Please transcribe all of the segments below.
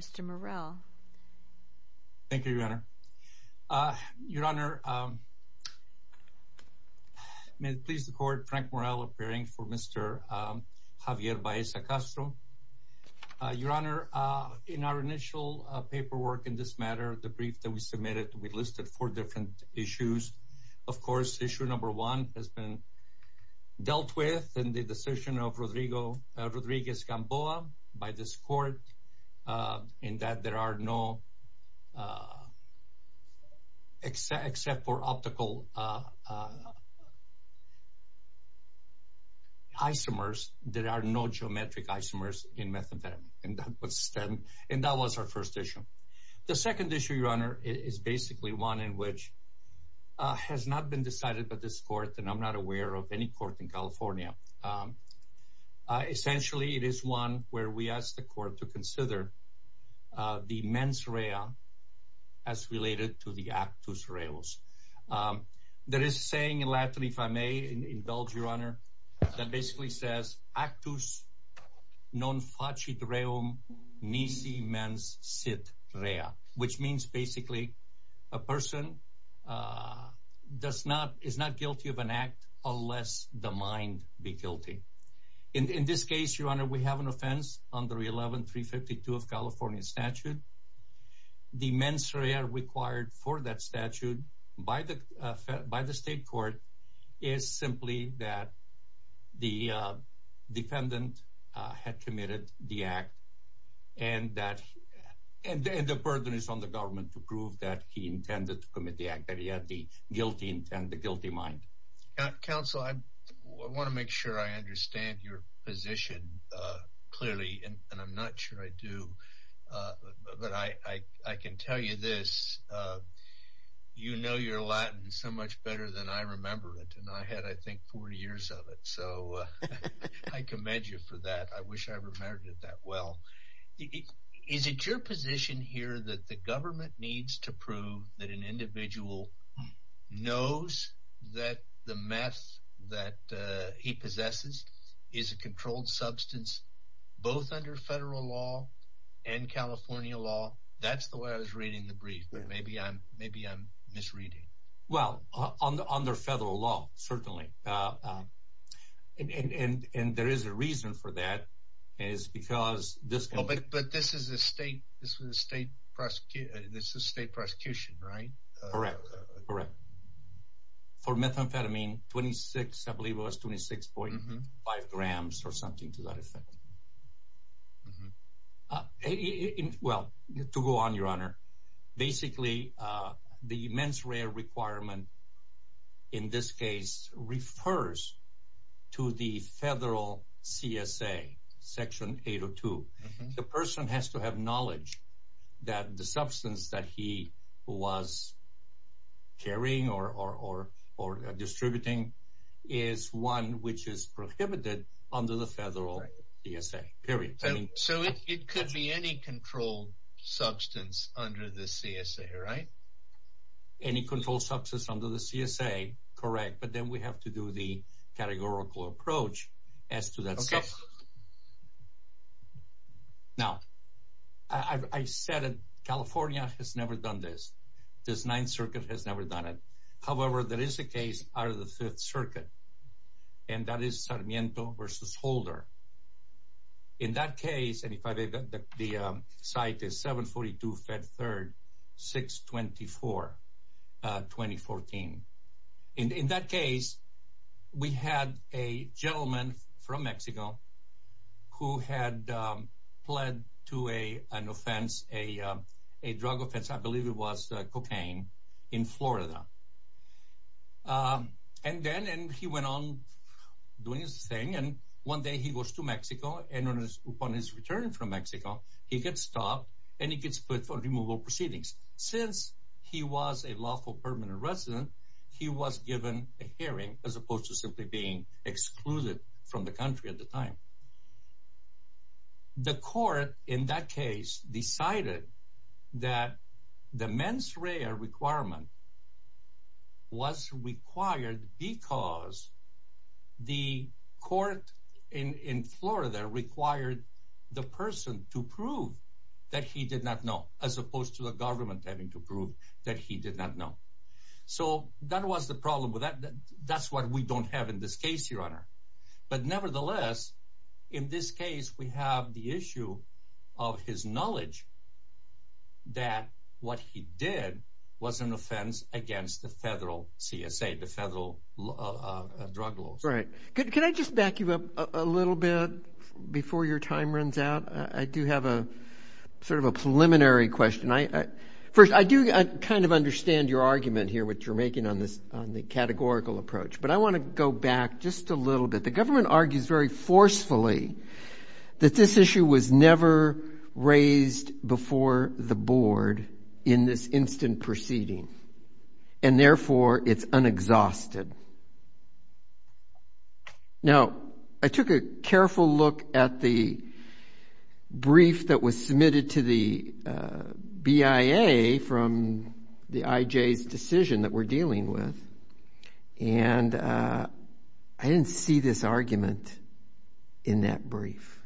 Mr. Morrell Thank you, Your Honor Your Honor May it please the court Frank Morrell appearing for Mr. Javier Baeza-Castro Your Honor in our initial paperwork in this matter the brief that we submitted we listed four different issues of course issue number one has been dealt with in the decision of Rodriguez-Gamboa by this court in that there are no except for optical isomers there are no geometric isomers in methadone and that was stem and that was our first issue the second issue Your Honor is basically one in which Has not been decided by this court, and I'm not aware of any court in California Essentially it is one where we asked the court to consider the mens rea as related to the actus reus There is saying in Latin if I may indulge Your Honor that basically says actus non facit reum Nisi mens sit rea which means basically a person Does not is not guilty of an act unless the mind be guilty in this case Your Honor We have an offense under 11352 of California statute the mens rea required for that statute by the by the state court is simply that the Dependent had committed the act and that And the burden is on the government to prove that he intended to commit the act that he had the guilty intent and the guilty mind Counsel I want to make sure I understand your position Clearly and I'm not sure I do But I I can tell you this You know your Latin so much better than I remember it and I had I think 40 years of it so I commend you for that. I wish I remembered it that well Is it your position here that the government needs to prove that an individual? Knows that the mess that he possesses is a controlled substance both under federal law and California law that's the way I was reading the brief, but maybe I'm maybe I'm misreading well on the under federal law certainly And and and there is a reason for that is because this but this is a state this was a state Prosecutor this is state prosecution right correct correct For methamphetamine 26 I believe was 26 point five grams or something to that effect Well to go on your honor basically the mens rea requirement in this case refers to the federal CSA section 802 the person has to have knowledge that the substance that he was carrying or or or or Distributing is one which is prohibited under the federal DSA period so it could be any controlled substance under the CSA right Any controlled substance under the CSA correct, but then we have to do the categorical approach as to that stuff Now I Said it California has never done this this ninth circuit has never done it however There is a case out of the Fifth Circuit and that is Sarmiento versus Holder in that case and if I did the site is 742 fed 3rd 624 2014 in that case We had a gentleman from Mexico who had Led to a an offense a a drug offense. I believe it was cocaine in, Florida And then and he went on Doing his thing and one day he goes to Mexico and on his upon his return from Mexico He gets stopped and he gets put for removal proceedings since he was a lawful permanent resident He was given a hearing as opposed to simply being excluded from the country at the time The court in that case decided that the mens rea requirement was required because The court in Florida required The person to prove that he did not know as opposed to the government having to prove that he did not know So that was the problem with that. That's what we don't have in this case your honor, but nevertheless In this case we have the issue of his knowledge That what he did was an offense against the federal CSA the federal Right. Can I just back you up a little bit before your time runs out? I do have a Sort of a preliminary question. I first I do I kind of understand your argument here What you're making on this on the categorical approach, but I want to go back just a little bit the government argues very forcefully That this issue was never raised before the board in this instant proceeding and Therefore it's unexhausted Now I took a careful look at the brief that was submitted to the BIA from the IJ's decision that we're dealing with and I didn't see this argument in that brief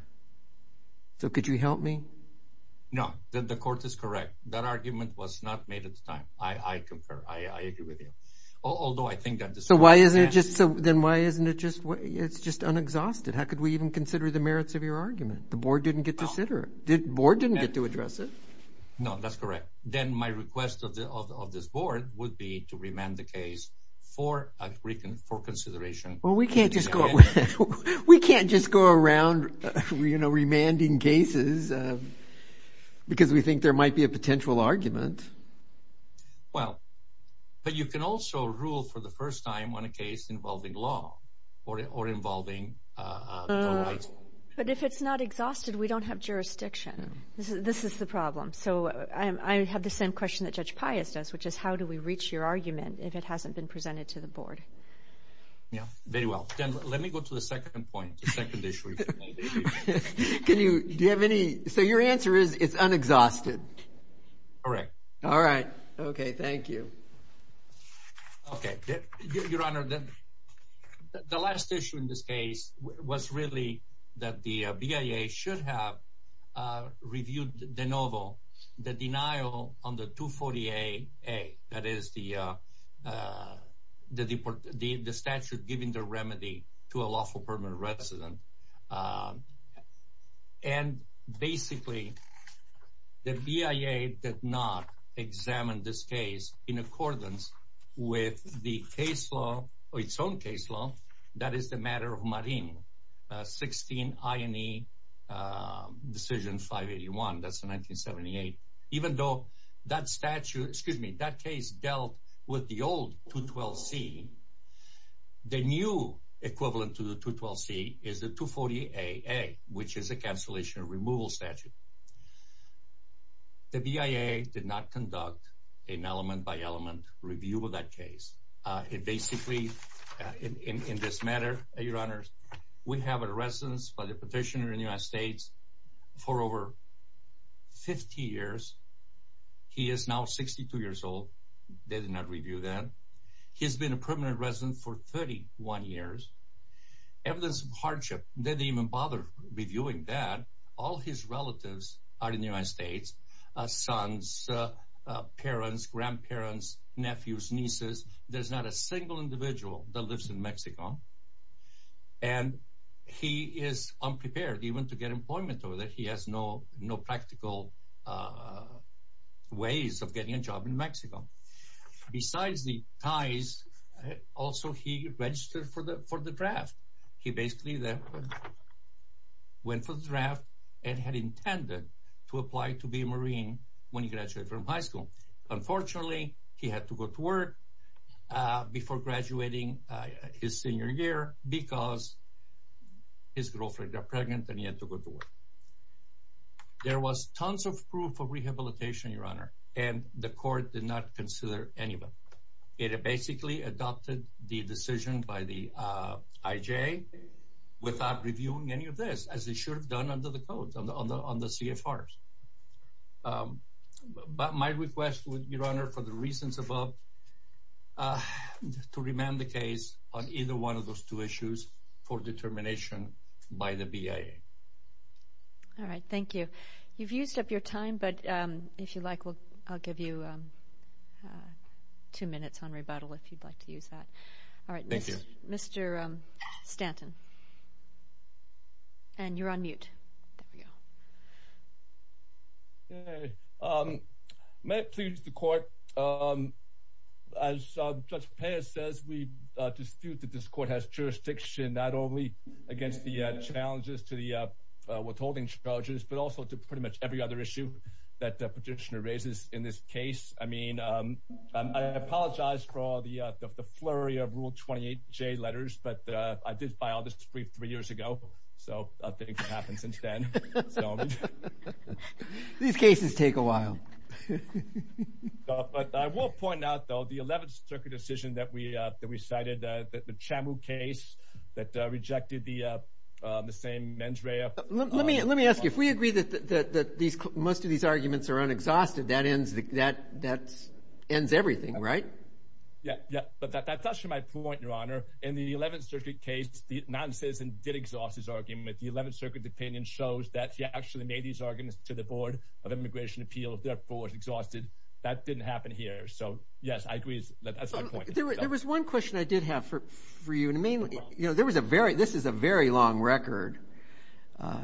So could you help me? No, then the court is correct. That argument was not made at the time. I I confer I Although I think that so why isn't it just so then why isn't it just what it's just unexhausted How could we even consider the merits of your argument? The board didn't get to sit or did board didn't get to address it No, that's correct. Then my request of this board would be to remand the case for a Greek and for consideration Well, we can't just go We can't just go around You know remanding cases Because we think there might be a potential argument Well, but you can also rule for the first time when a case involving law or it or involving But if it's not exhausted we don't have jurisdiction this is this is the problem So I have the same question that judge Pius does which is how do we reach your argument? If it hasn't been presented to the board Yeah, very well, then let me go to the second point Can you do you have any so your answer is it's unexhausted Correct. All right. Okay. Thank you Okay, your honor then the last issue in this case was really that the BIA should have reviewed the novel the denial on the 240 a a that is the The deport the statute giving the remedy to a lawful permanent resident and basically the BIA did not Examine this case in accordance with the case law or its own case law. That is the matter of marine 16 I any Decision 581 that's the 1978 even though that statute excuse me that case dealt with the old 212 see The new equivalent to the 212 C is the 240 a a which is a cancellation removal statute The BIA did not conduct an element by element review of that case. It basically In this matter your honors. We have a residence by the petitioner in the United States for over 50 years He is now 62 years old. They did not review that. He's been a permanent resident for 31 years Evidence of hardship didn't even bother reviewing that all his relatives are in the United States sons parents grandparents nephews nieces, there's not a single individual that lives in Mexico and He is unprepared even to get employment over that he has no no practical Ways of getting a job in Mexico besides the ties Also, he registered for the for the draft he basically that Went for the draft and had intended to apply to be a marine when he graduated from high school Unfortunately, he had to go to work before graduating his senior year because His girlfriend got pregnant and he had to go to work There was tons of proof of rehabilitation your honor and the court did not consider anybody It had basically adopted the decision by the IJ Without reviewing any of this as they should have done under the code on the on the CFR But my request would be runner for the reasons above To remand the case on either one of those two issues for determination by the BIA All right. Thank you. You've used up your time. But if you like, well, I'll give you Two minutes on rebuttal if you'd like to use that. All right. Thank you. Mr. Stanton And you're on mute May it please the court as Judge Perez says we dispute that this court has jurisdiction not only against the challenges to the I Apologize for all the the flurry of rule 28 J letters, but I did by all this three three years ago So I think it happened since then These cases take a while But I will point out though the 11th took a decision that we that we cited that the chamu case that rejected the the same men's rare Let me let me ask you if we agree that that these most of these arguments are unexhausted that ends that that's Ends everything, right? Yeah, yeah, but that's actually my point your honor in the 11th Circuit case The non-citizen did exhaust his argument the 11th Circuit opinion shows that he actually made these arguments to the Board of Immigration Appeal Therefore exhausted that didn't happen here. So yes, I agree There was one question I did have for for you. And I mean, you know, there was a very this is a very long record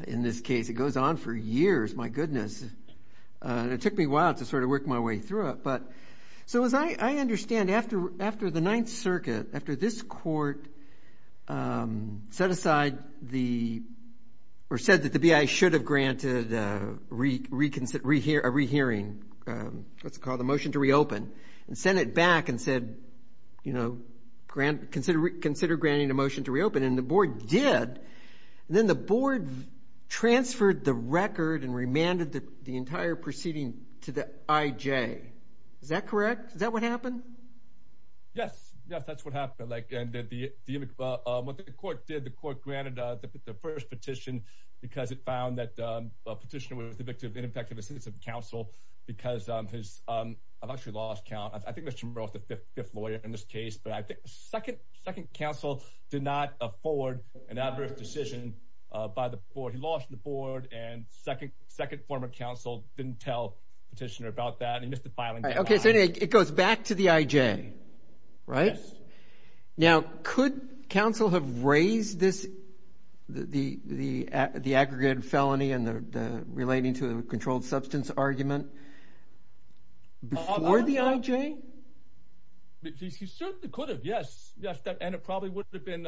In this case it goes on for years my goodness It took me a while to sort of work my way through it But so as I I understand after after the Ninth Circuit after this court Set aside the Or said that the BI should have granted reconsider here a rehearing Let's call the motion to reopen and send it back and said, you know Grant consider reconsider granting a motion to reopen and the board did and then the board Transferred the record and remanded the entire proceeding to the IJ. Is that correct? Is that what happened? Yes, yes, that's what happened. Like and did the Court did the court granted the first petition because it found that a petitioner was the victim ineffective assistance of counsel Because I'm his I've actually lost count. I think there's some growth the fifth lawyer in this case Second second counsel did not afford an adverse decision By the board he lost the board and second second former counsel didn't tell petitioner about that. He missed the filing Okay, so it goes back to the IJ right Now could counsel have raised this The the the aggregated felony and the relating to a controlled substance argument Before the IJ Yes, yes that and it probably would have been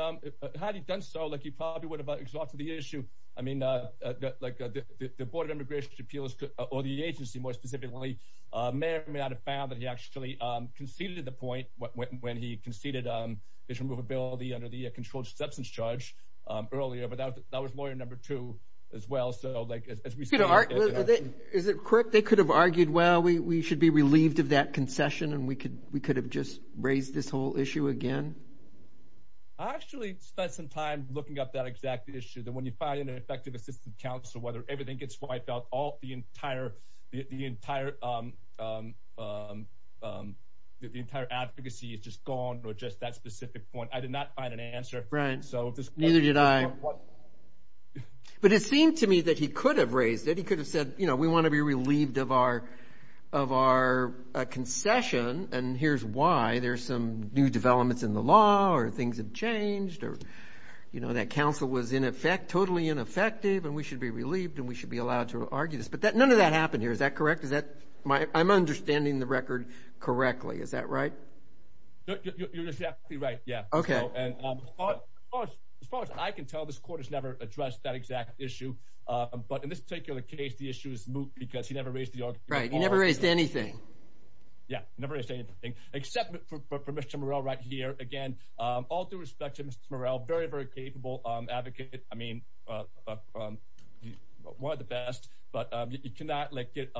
had he done so like he probably would have exalted the issue I mean Like the Board of Immigration Appeals or the agency more specifically Mayor may not have found that he actually conceded the point when he conceded on his removability under the controlled substance charge Earlier, but that was lawyer number two as well. So like Is it correct? They could have argued Well, we should be relieved of that concession and we could we could have just raised this whole issue again. I Actually spent some time looking up that exact issue that when you find an effective assistant counsel whether everything gets wiped out all the entire the entire Entire advocacy is just gone or just that specific point. I did not find an answer right? So this neither did I But it seemed to me that he could have raised it he could have said, you know, we want to be relieved of our a concession and here's why there's some new developments in the law or things have changed or You know that counsel was in effect totally ineffective and we should be relieved and we should be allowed to argue this but that none of That happened here. Is that correct? Is that my I'm understanding the record correctly. Is that right? Okay As far as I can tell this court has never addressed that exact issue But in this particular case the issue is moot because he never raised the right he never raised anything Yeah, never anything except for mr. Morell right here again all due respect to mr. Morell very very capable advocate. I mean One of the best but you cannot let get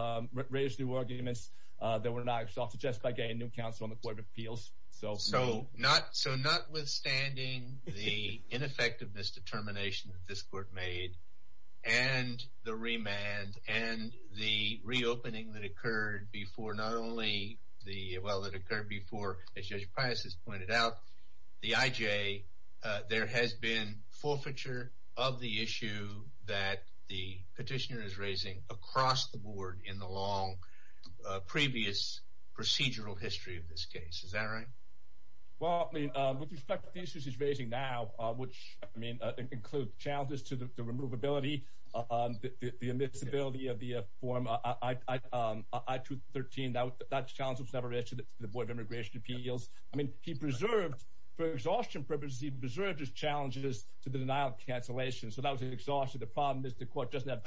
raised new arguments There were knives off to just by getting new counsel on the court of appeals so so not so notwithstanding the ineffectiveness determination that this court made and the remand and the reopening that occurred before not only The well that occurred before as judge Pius has pointed out the IJ There has been forfeiture of the issue that the petitioner is raising across the board in the long previous Procedural history of this case. Is that right? Well with respect to the issues he's raising now, which I mean includes challenges to the removability the admissibility of the a form I 2013 that was that challenge was never issued the Board of Immigration Appeals I mean he preserved for exhaustion purposes. He preserved his challenges to the denial cancellation. So that was an exhaustion The problem is the court doesn't have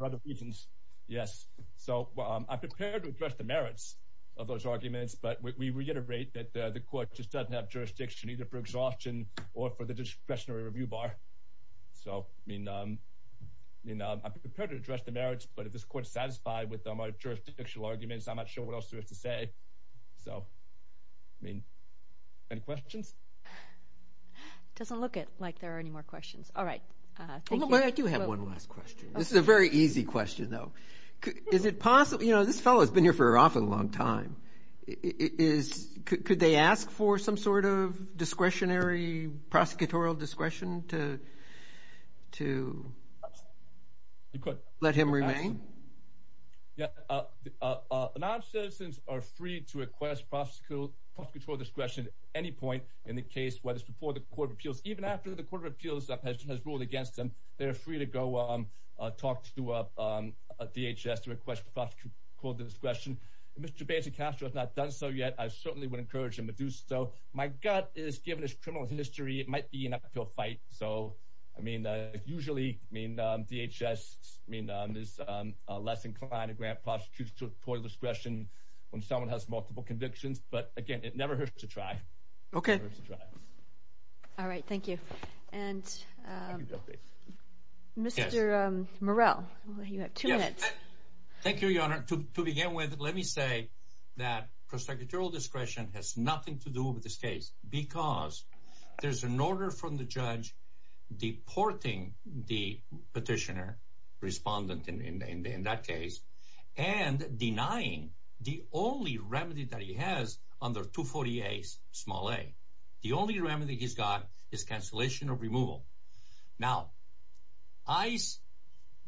other reasons. Yes, so I prepared to address the merits of those arguments But we reiterate that the court just doesn't have jurisdiction either for exhaustion or for the discretionary review bar so I mean You know, I'm prepared to address the merits, but if this court satisfied with them our jurisdiction arguments I'm not sure what else to have to say. So I mean any questions Doesn't look it like there are any more questions. All right This is a very easy question though, is it possible, you know, this fellow has been here for often a long time is could they ask for some sort of discretionary prosecutorial discretion to To Let him remain Yeah Non-citizens are free to request Prosecutorial discretion any point in the case whether it's before the Court of Appeals even after the Court of Appeals that has ruled against them They're free to go Talk to a DHS to request prosecutorial discretion. Mr. Banzi Castro has not done so yet I certainly would encourage him to do so. My gut is given his criminal history. It might be an uphill fight. So I mean usually mean DHS mean on this Less inclined to grant prosecutorial discretion when someone has multiple convictions, but again, it never hurts to try. Okay all right, thank you and Mr. Morrell you have two minutes Thank you, Your Honor to begin with let me say that Prosecutorial discretion has nothing to do with this case because there's an order from the judge Deporting the petitioner respondent in that case and Denying the only remedy that he has under 240 a small a the only remedy he's got is cancellation of removal now ice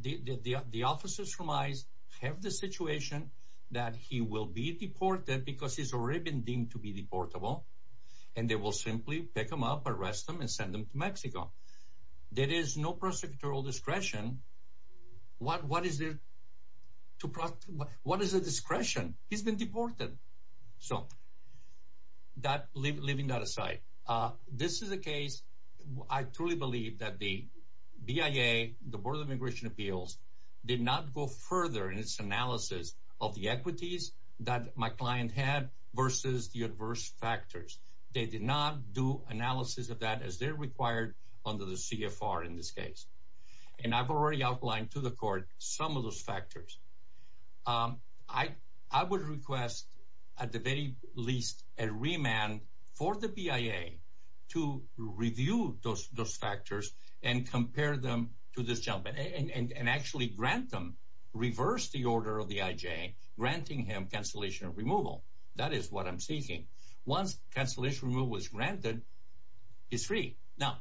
the the officers from ice have the situation that he will be Deported because he's already been deemed to be deportable and they will simply pick him up arrest them and send them to Mexico There is no prosecutorial discretion What what is there? To plot what is the discretion? He's been deported. So That leaving that aside This is a case. I truly believe that the BIA the Board of Immigration Appeals did not go further in its analysis of the equities that my client had Versus the adverse factors. They did not do analysis of that as they're required under the CFR in this case And I've already outlined to the court some of those factors I I would request at the very least a remand for the BIA to review those those factors and compare them to this gentleman and Actually grant them Reverse the order of the IJ granting him cancellation of removal. That is what I'm seeking once cancellation rule was granted He's free now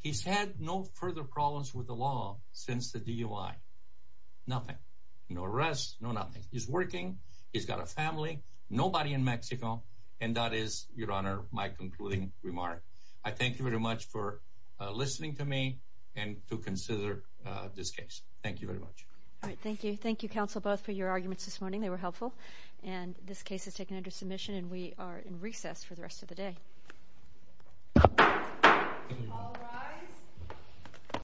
He's had no further problems with the law since the DUI Nothing, no arrests. No, nothing. He's working. He's got a family nobody in Mexico And that is your honor my concluding remark. I thank you very much for This case. Thank you very much. All right. Thank you. Thank you counsel both for your arguments this morning They were helpful and this case is taken under submission and we are in recess for the rest of the day